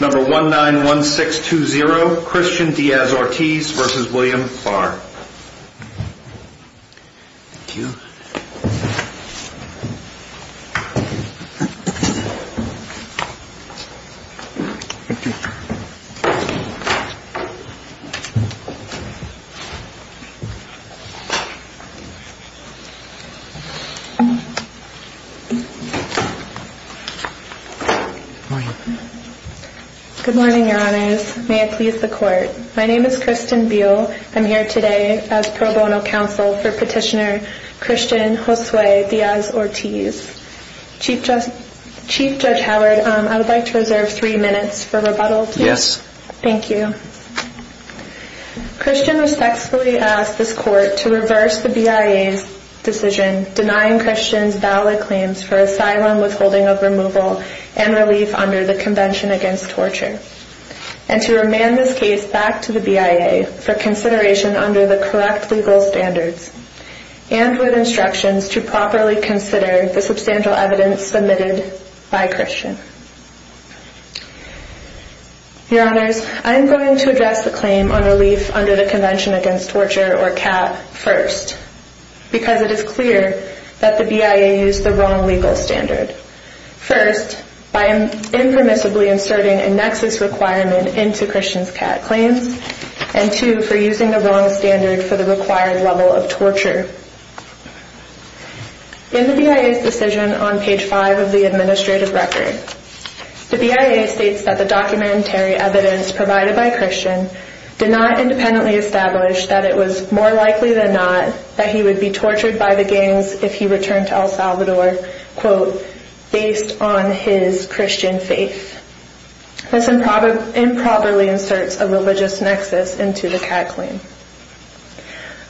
number one nine one six two zero Christian Diaz Ortiz versus William Barr Good morning, your honors. May it please the court. My name is Kristen Buol. I'm here today as pro bono counsel for petitioner Christian Josue Diaz Ortiz. Chief Judge Howard, I would like to reserve three minutes for rebuttal. Yes. Thank you. Christian respectfully asked this court to reverse the BIA's decision denying Christians valid claims for asylum withholding of removal and relief under the Convention Against Torture and to remand this case back to the BIA for consideration under the correct legal standards and with instructions to properly consider the substantial evidence submitted by Christian. Your honors, I'm going to address the claim on relief under the Convention Against Torture or CAT first because it is clear that the BIA used the wrong legal standard. First, by impermissibly inserting a nexus requirement into Christian's CAT claims and two, for using the wrong standard for the required level of torture. In the BIA's decision on page five of the administrative record, the BIA states that the documentary evidence provided by Christian did not independently establish that it was more likely than not that he would be tortured by the gangs if he returned to El Salvador, quote, based on his Christian faith. This improperly inserts a religious nexus into the CAT claim.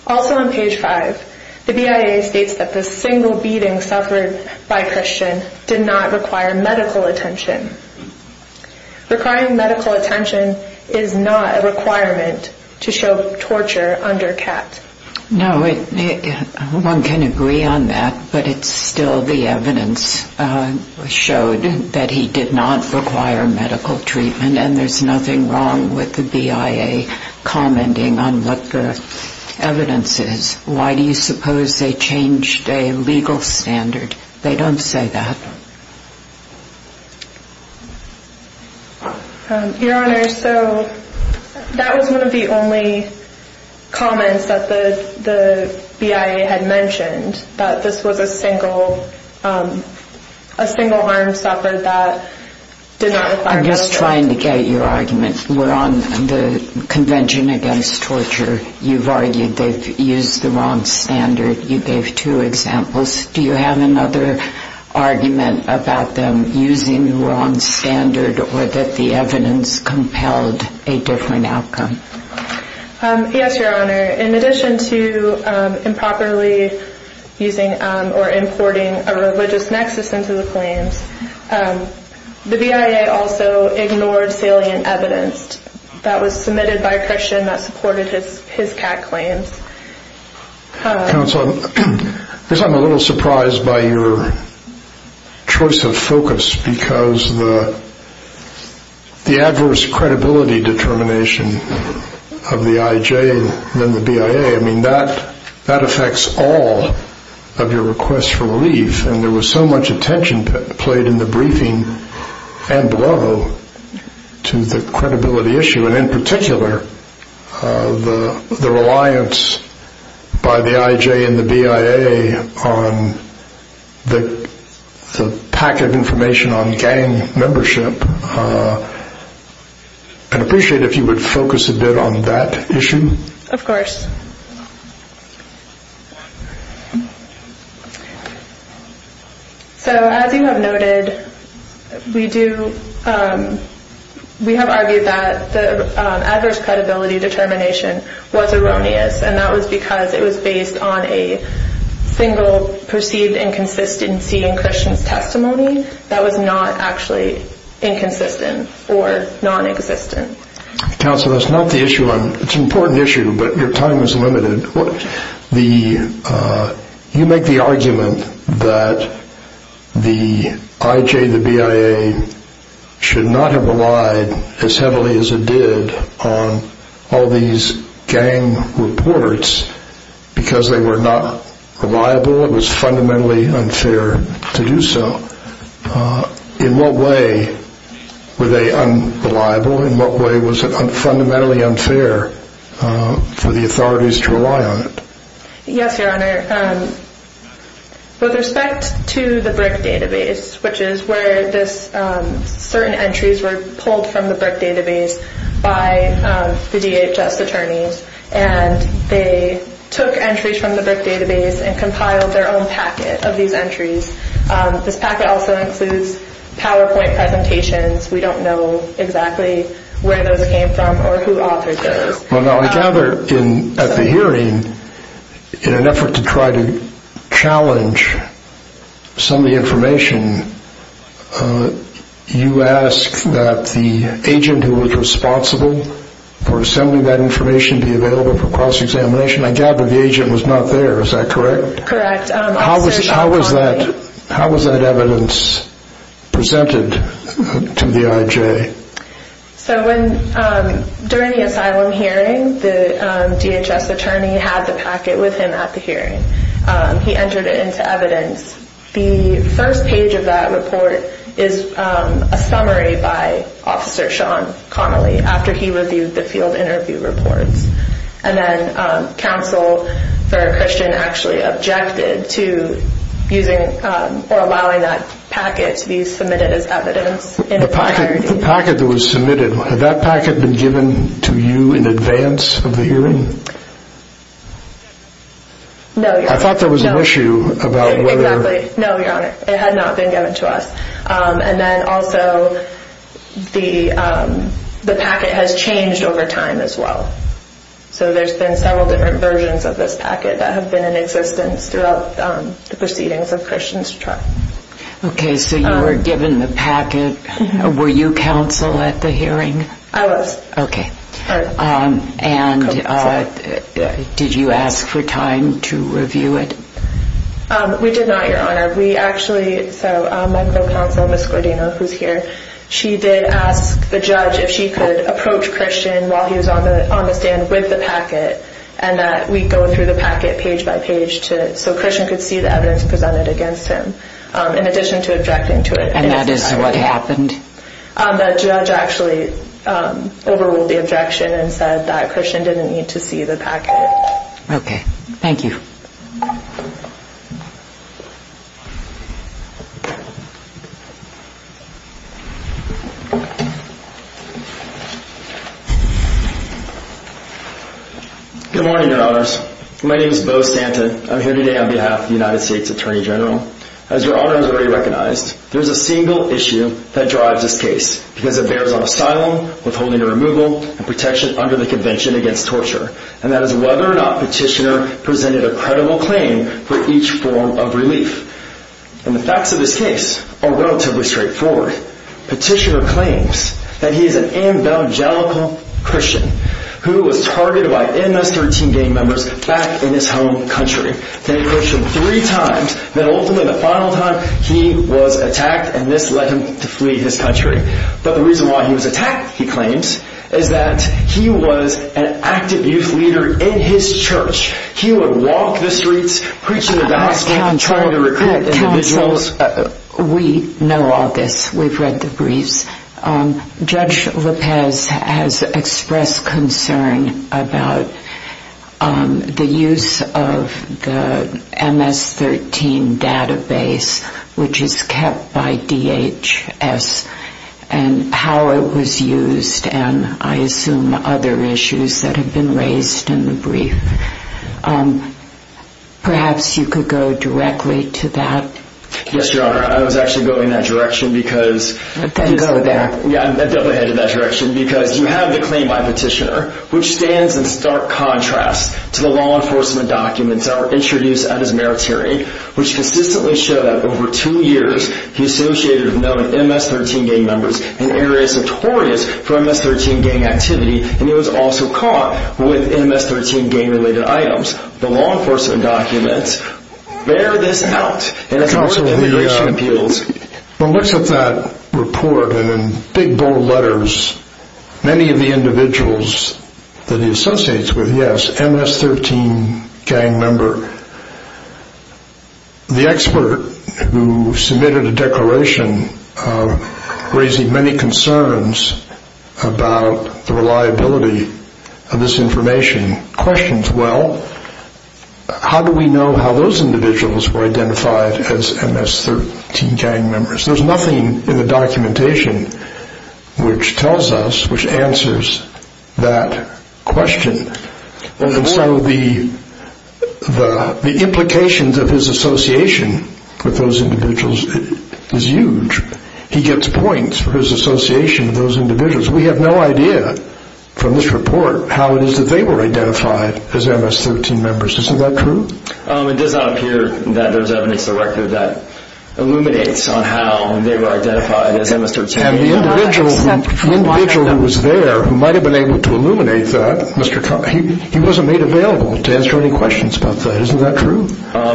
Also on page five, the BIA states that the single beating suffered by Christian did not require medical attention. Requiring medical attention is not a requirement to show torture under CAT. No, one can agree on that, but it's still the evidence showed that he did not require medical treatment and there's nothing wrong with the BIA commenting on what the evidence is. Why do you suppose they changed a legal standard? They don't say that. Your Honor, so that was one of the only comments that the BIA had mentioned, that this was a single harm suffered that did not require medical attention. I'm just trying to get your argument. We're on the Convention Against Torture. You've argued they've used the wrong standard. You gave two examples. Do you have another argument about them using the wrong standard or that the evidence compelled a different outcome? Yes, Your Honor. In addition to improperly using or importing a religious nexus into the claims, the BIA also ignored salient evidence that was submitted by a Christian that supported his CAT claims. Counsel, I'm a little surprised by your choice of focus because the adverse credibility determination of the IJ and then the BIA, that affects all of your requests for relief. There was so much attention played in the briefing and below to the credibility issue, and in particular, the reliance by the IJ and the BIA on the packet of information on gang membership. I'd appreciate it if you would focus a bit on that issue. Of course. So as you have noted, we have argued that the adverse credibility determination was erroneous, and that was because it was based on a single perceived inconsistency in Christian testimony that was not actually inconsistent or non-existent. Counsel, that's not the issue. It's an important issue, but your time is limited. You make the argument that the IJ and the BIA should not have relied as heavily as it did on all these gang reports because they were not reliable. It was fundamentally unfair to do so. In what way were they unreliable? In what way was it fundamentally unfair for the authorities to rely on it? I gather at the hearing, in an effort to try to challenge some of the information, you asked that the agent who was responsible for sending that information be available for cross-examination. I gather the agent was not there. Is that correct? Correct. How was that evidence presented to the IJ? During the asylum hearing, the DHS attorney had the packet with him at the hearing. He entered it into evidence. The first page of that report is a summary by Officer Sean Connelly after he reviewed the field interview reports. Then counsel for Christian actually objected to using or allowing that packet to be submitted as evidence. The packet that was submitted, had that packet been given to you in advance of the hearing? No, Your Honor. It had not been given to us. Also, the packet has changed over time as well. There have been several different versions of this packet that have been in existence throughout the proceedings of Christian's trial. Okay, so you were given the packet. Were you counsel at the hearing? I was. Okay. And did you ask for time to review it? We did not, Your Honor. We actually, so my co-counsel, Ms. Gordino, who is here, she did ask the judge if she could approach Christian while he was on the stand with the packet and that we go through the packet page by page so Christian could see the evidence presented against him. In addition to objecting to it. And that is what happened? The judge actually overruled the objection and said that Christian didn't need to see the packet. Okay. Thank you. Good morning, Your Honors. My name is Beau Santin. I'm here today on behalf of the United States Attorney General. As Your Honor has already recognized, there is a single issue that drives this case because it bears on asylum, withholding of removal, and protection under the Convention Against Torture. And that is whether or not Petitioner presented a credible claim for each form of relief. And the facts of this case are relatively straightforward. Petitioner claims that he is an evangelical Christian who was targeted by MS-13 gang members back in his home country. They approached him three times. Then ultimately, the final time, he was attacked and this led him to flee his country. But the reason why he was attacked, he claims, is that he was an active youth leader in his church. He would walk the streets, preaching the gospel, trying to recruit individuals. We know all this. We've read the briefs. Judge Lopez has expressed concern about the use of the MS-13 database, which is kept by DHS, and how it was used, and I assume other issues that have been raised in the brief. Perhaps you could go directly to that. Yes, Your Honor. I was actually going that direction because... Then go there. I'm definitely headed that direction because you have the claim by Petitioner, which stands in stark contrast to the law enforcement documents that were introduced at his merit hearing, which consistently show that over two years, he associated with known MS-13 gang members in areas notorious for MS-13 gang activity, and he was also caught with MS-13 gang-related items. The law enforcement documents bear this out, and it's worth immigration appeals. One looks at that report, and in big, bold letters, many of the individuals that he associates with, yes, MS-13 gang member, the expert who submitted a declaration raising many concerns about the reliability of this information, questions, well, how do we know how those individuals were identified as MS-13 gang members? There's nothing in the documentation which tells us, which answers that question, and so the implications of his association with those individuals is huge. He gets points for his association with those individuals. We have no idea from this report how it is that they were identified as MS-13 members. Isn't that true? It does not appear that there's evidence to the record that illuminates on how they were identified as MS-13 gang members. The individual who was there, who might have been able to illuminate that, he wasn't made available to answer any questions about that. Isn't that true?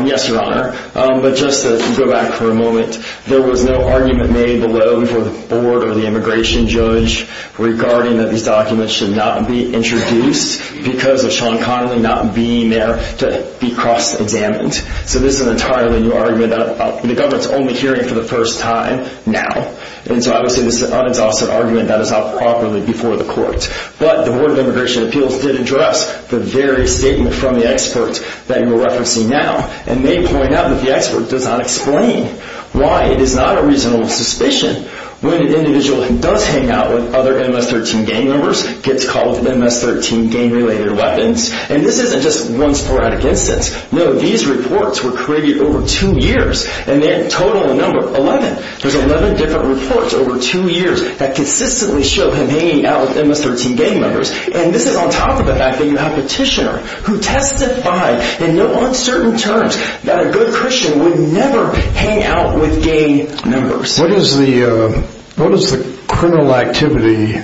Yes, Your Honor. But just to go back for a moment, there was no argument made below before the board or the immigration judge regarding that these documents should not be introduced because of Sean Connolly not being there to be cross-examined. So this is an entirely new argument that the government's only hearing for the first time now, and so obviously this is an unexhausted argument that is not properly before the court. But the Board of Immigration Appeals did address the very statement from the expert that you're referencing now, and they point out that the expert does not explain why it is not a reasonable suspicion when an individual who does hang out with other MS-13 gang members gets called MS-13 gang-related weapons. And this isn't just one sporadic instance. No, these reports were created over two years, and they total a number of 11. There's 11 different reports over two years that consistently show him hanging out with MS-13 gang members, and this is on top of the fact that you have a petitioner who testified in no uncertain terms that a good Christian would never hang out with gang members. What is the criminal activity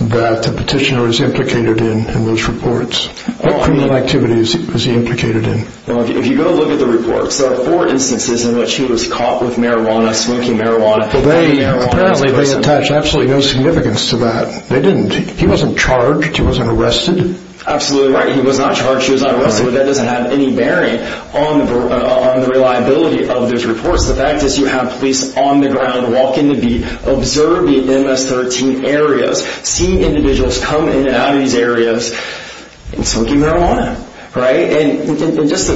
that the petitioner is implicated in in those reports? What criminal activity is he implicated in? Well, if you go look at the reports, there are four instances in which he was caught with marijuana, smoking marijuana. Well, apparently they attach absolutely no significance to that. They didn't. He wasn't charged. He wasn't arrested. Absolutely right. He was not charged. He was not arrested. That doesn't have any bearing on the reliability of those reports. The fact is you have police on the ground, walking the beat, observing MS-13 areas, seeing individuals come in and out of these areas and smoking marijuana, right? And just to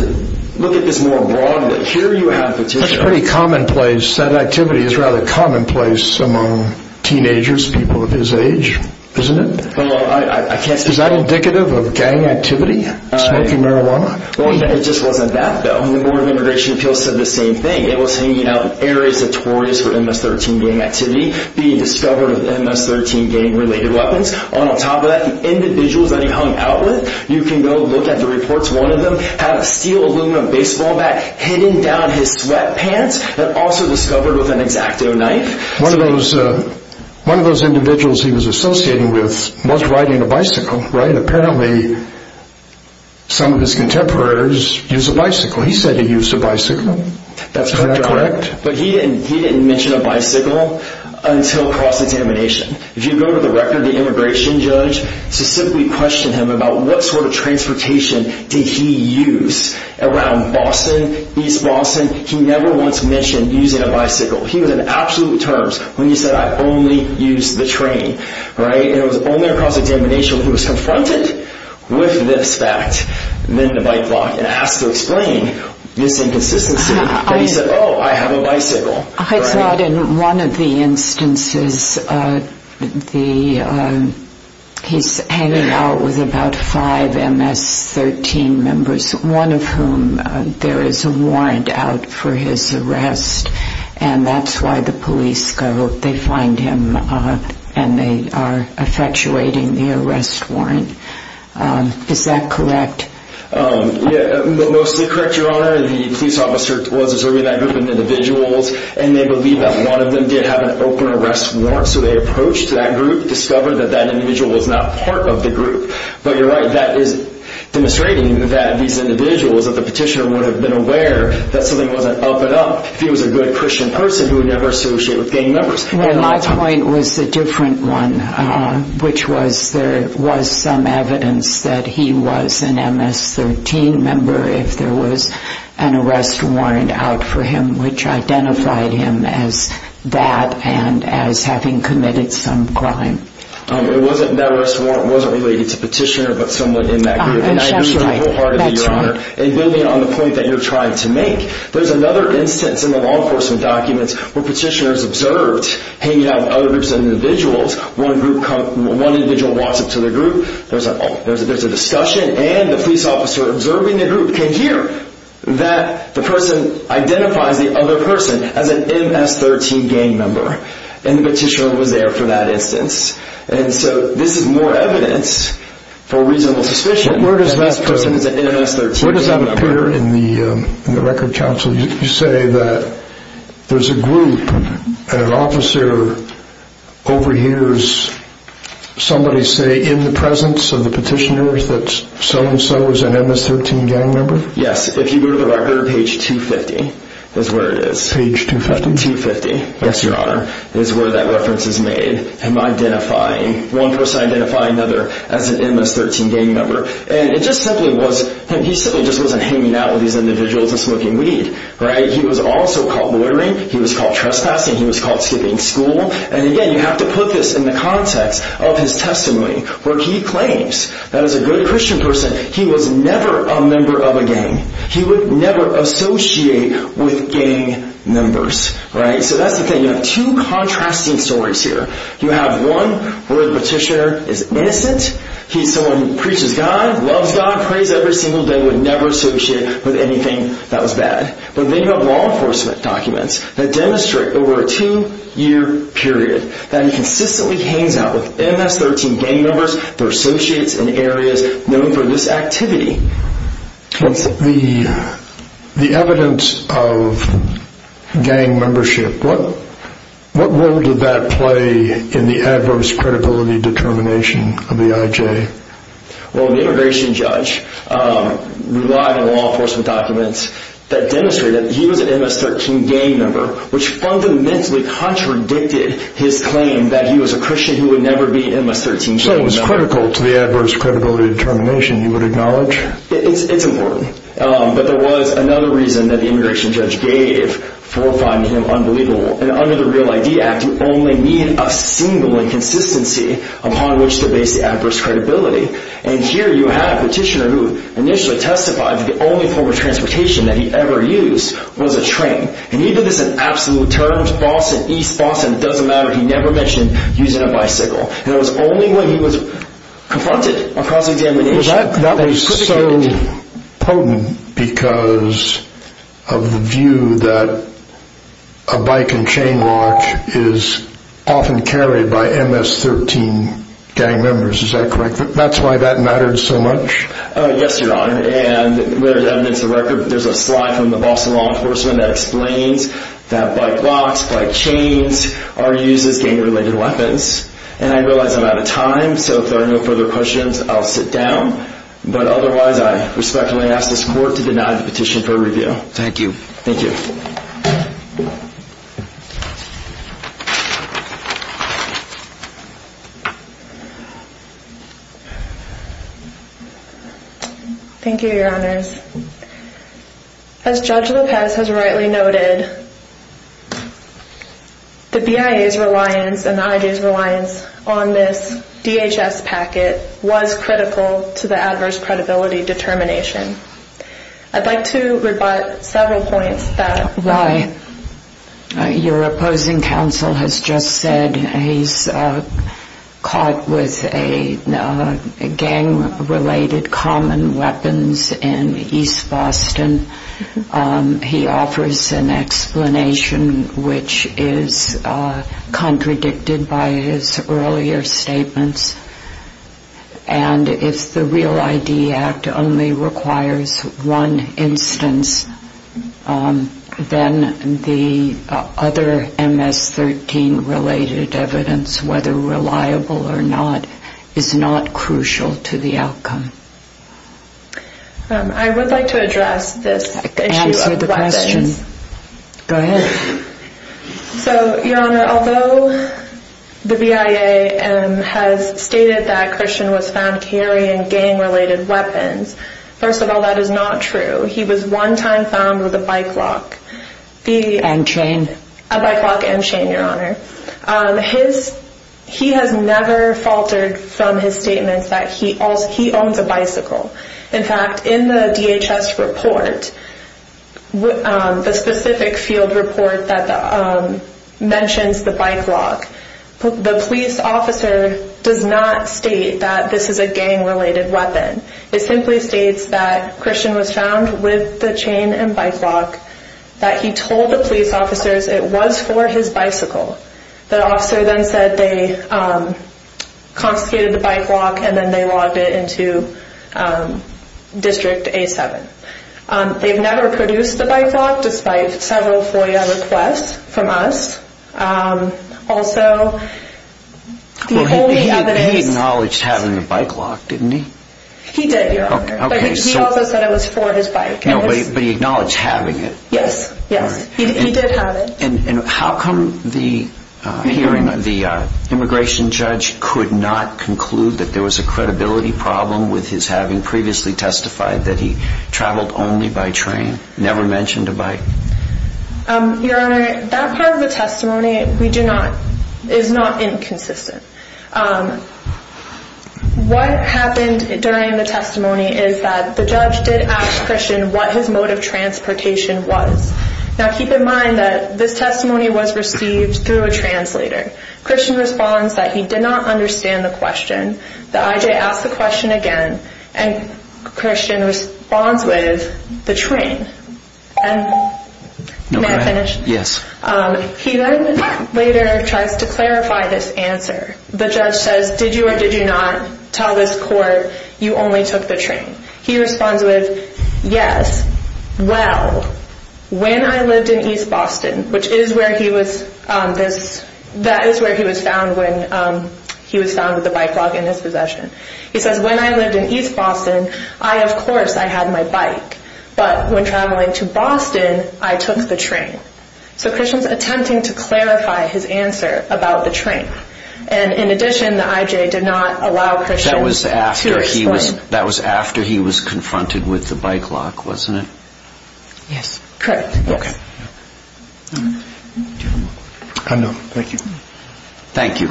look at this more broadly, here you have the petitioner... That's pretty commonplace. That activity is rather commonplace among teenagers, people his age, isn't it? Is that indicative of gang activity? Smoking marijuana? Well, it just wasn't that, though. The Board of Immigration Appeals said the same thing. It was hanging out in areas notorious for MS-13 gang activity, being discovered with MS-13 gang-related weapons. On top of that, the individuals that he hung out with, you can go look at the reports. One of them had a steel aluminum baseball bat hidden down his sweatpants and also discovered with an X-Acto knife. One of those individuals he was associating with was riding a bicycle, right? Apparently, some of his contemporaries use a bicycle. He said he used a bicycle. Is that correct? But he didn't mention a bicycle until cross-examination. If you go to the record of the immigration judge, to simply question him about what sort of transportation did he use around Boston, East Boston, he never once mentioned using a bicycle. He was in absolute terms when he said, I only use the train, right? And it was only across examination that he was confronted with this fact, then the bike locked, and asked to explain this inconsistency that he said, oh, I have a bicycle. I thought in one of the instances, he's hanging out with about five MS-13 members, one of whom there is a warrant out for his arrest, and that's why the police go, they find him, and they are effectuating the arrest warrant. Is that correct? Yeah, mostly correct, Your Honor. The police officer was observing that group of individuals, and they believe that one of them did have an open arrest warrant, so they approached that group, discovered that that individual was not part of the group. But you're right, that is demonstrating that these individuals, that the petitioner would have been aware that something wasn't up and up if he was a good Christian person who never associated with gang members. My point was a different one, which was there was some evidence that he was an MS-13 member if there was an arrest warrant out for him, which identified him as that and as having committed some crime. It wasn't an arrest warrant, it wasn't related to the petitioner, but someone in that group. And I agree wholeheartedly, Your Honor, and building on the point that you're trying to make, there's another instance in the law enforcement documents where petitioners observed hanging out with other groups of individuals, one individual walks up to the group, there's a discussion, and the police officer observing the group can hear that the person identifies the other person as an MS-13 gang member, and the petitioner was there for that instance. And so this is more evidence for reasonable suspicion that this person is an MS-13 gang member. Where does that appear in the record, counsel? You say that there's a group and an officer overhears somebody say in the presence of the petitioner that so-and-so is an MS-13 gang member? Yes, if you go to the record, page 250 is where it is. Page 250? 250, yes, Your Honor, is where that reference is made, him identifying, one person identifying another as an MS-13 gang member. And it just simply was him, he simply just wasn't hanging out with these individuals and smoking weed. He was also caught loitering, he was caught trespassing, he was caught skipping school. And again, you have to put this in the context of his testimony, where he claims that as a good Christian person, he was never a member of a gang. He would never associate with gang members. So that's the thing, you have two contrasting stories here. You have one where the petitioner is innocent, he's someone who preaches God, loves God, prays every single day, would never associate with anything that was bad. But then you have law enforcement documents that demonstrate over a two-year period that he consistently hangs out with MS-13 gang members, their associates in areas known for this activity. The evidence of gang membership, what role did that play in the adverse credibility determination of the IJ? Well, the immigration judge relied on law enforcement documents that demonstrated that he was an MS-13 gang member, which fundamentally contradicted his claim that he was a Christian who would never be an MS-13 gang member. So it was critical to the adverse credibility determination, you would acknowledge? It's important. But there was another reason that the immigration judge gave for finding him unbelievable. And under the REAL ID Act, you only need a single inconsistency upon which to base the adverse credibility. And here you have a petitioner who initially testified that the only form of transportation that he ever used was a train. And he did this in absolute terms, Boston, East Boston, it doesn't matter, he never mentioned using a bicycle. And it was only when he was confronted across examination that they critiqued him. That was so potent because of the view that a bike and chain lock is often carried by MS-13 gang members, is that correct? That's why that mattered so much? Yes, Your Honor. And there's evidence of record, there's a slide from the Boston law enforcement that explains that bike locks, bike chains are used as gang-related weapons. And I realize I'm out of time, so if there are no further questions, I'll sit down. But otherwise, I respectfully ask this court to deny the petition for review. Thank you. Thank you. Thank you, Your Honors. As Judge Lopez has rightly noted, the BIA's reliance and the IJ's reliance on this DHS packet was critical to the adverse credibility determination. I'd like to rebut several points that... He offers an explanation which is contradicted by his earlier statements. And if the REAL ID Act only requires one instance, then the other MS-13-related evidence, whether reliable or not, is not crucial to the outcome. I would like to address this issue of weapons. Answer the question. Go ahead. So, Your Honor, although the BIA has stated that Christian was found carrying gang-related weapons, first of all, that is not true. He was one time found with a bike lock. And chain. A bike lock and chain, Your Honor. He has never faltered from his statements that he owns a bicycle. In fact, in the DHS report, the specific field report that mentions the bike lock, the police officer does not state that this is a gang-related weapon. It simply states that Christian was found with the chain and bike lock, that he told the police officers it was for his bicycle. The officer then said they confiscated the bike lock and then they logged it into District A-7. They've never produced the bike lock, despite several FOIA requests from us. Also, the only evidence... He did, Your Honor. But he also said it was for his bike. No, but he acknowledged having it. Yes, yes. He did have it. And how come the immigration judge could not conclude that there was a credibility problem with his having previously testified that he traveled only by train, never mentioned a bike? Your Honor, that part of the testimony is not inconsistent. What happened during the testimony is that the judge did ask Christian what his mode of transportation was. Now, keep in mind that this testimony was received through a translator. Christian responds that he did not understand the question. The IJ asks the question again, and Christian responds with, the train. May I finish? Yes. He then later tries to clarify this answer. The judge says, did you or did you not tell this court you only took the train? He responds with, yes. Well, when I lived in East Boston, which is where he was... That is where he was found when he was found with the bike lock in his possession. He says, when I lived in East Boston, I, of course, I had my bike. But when traveling to Boston, I took the train. So Christian is attempting to clarify his answer about the train. And in addition, the IJ did not allow Christian to explain... That was after he was confronted with the bike lock, wasn't it? Yes. Correct. Okay. I'm done. Thank you. Thank you.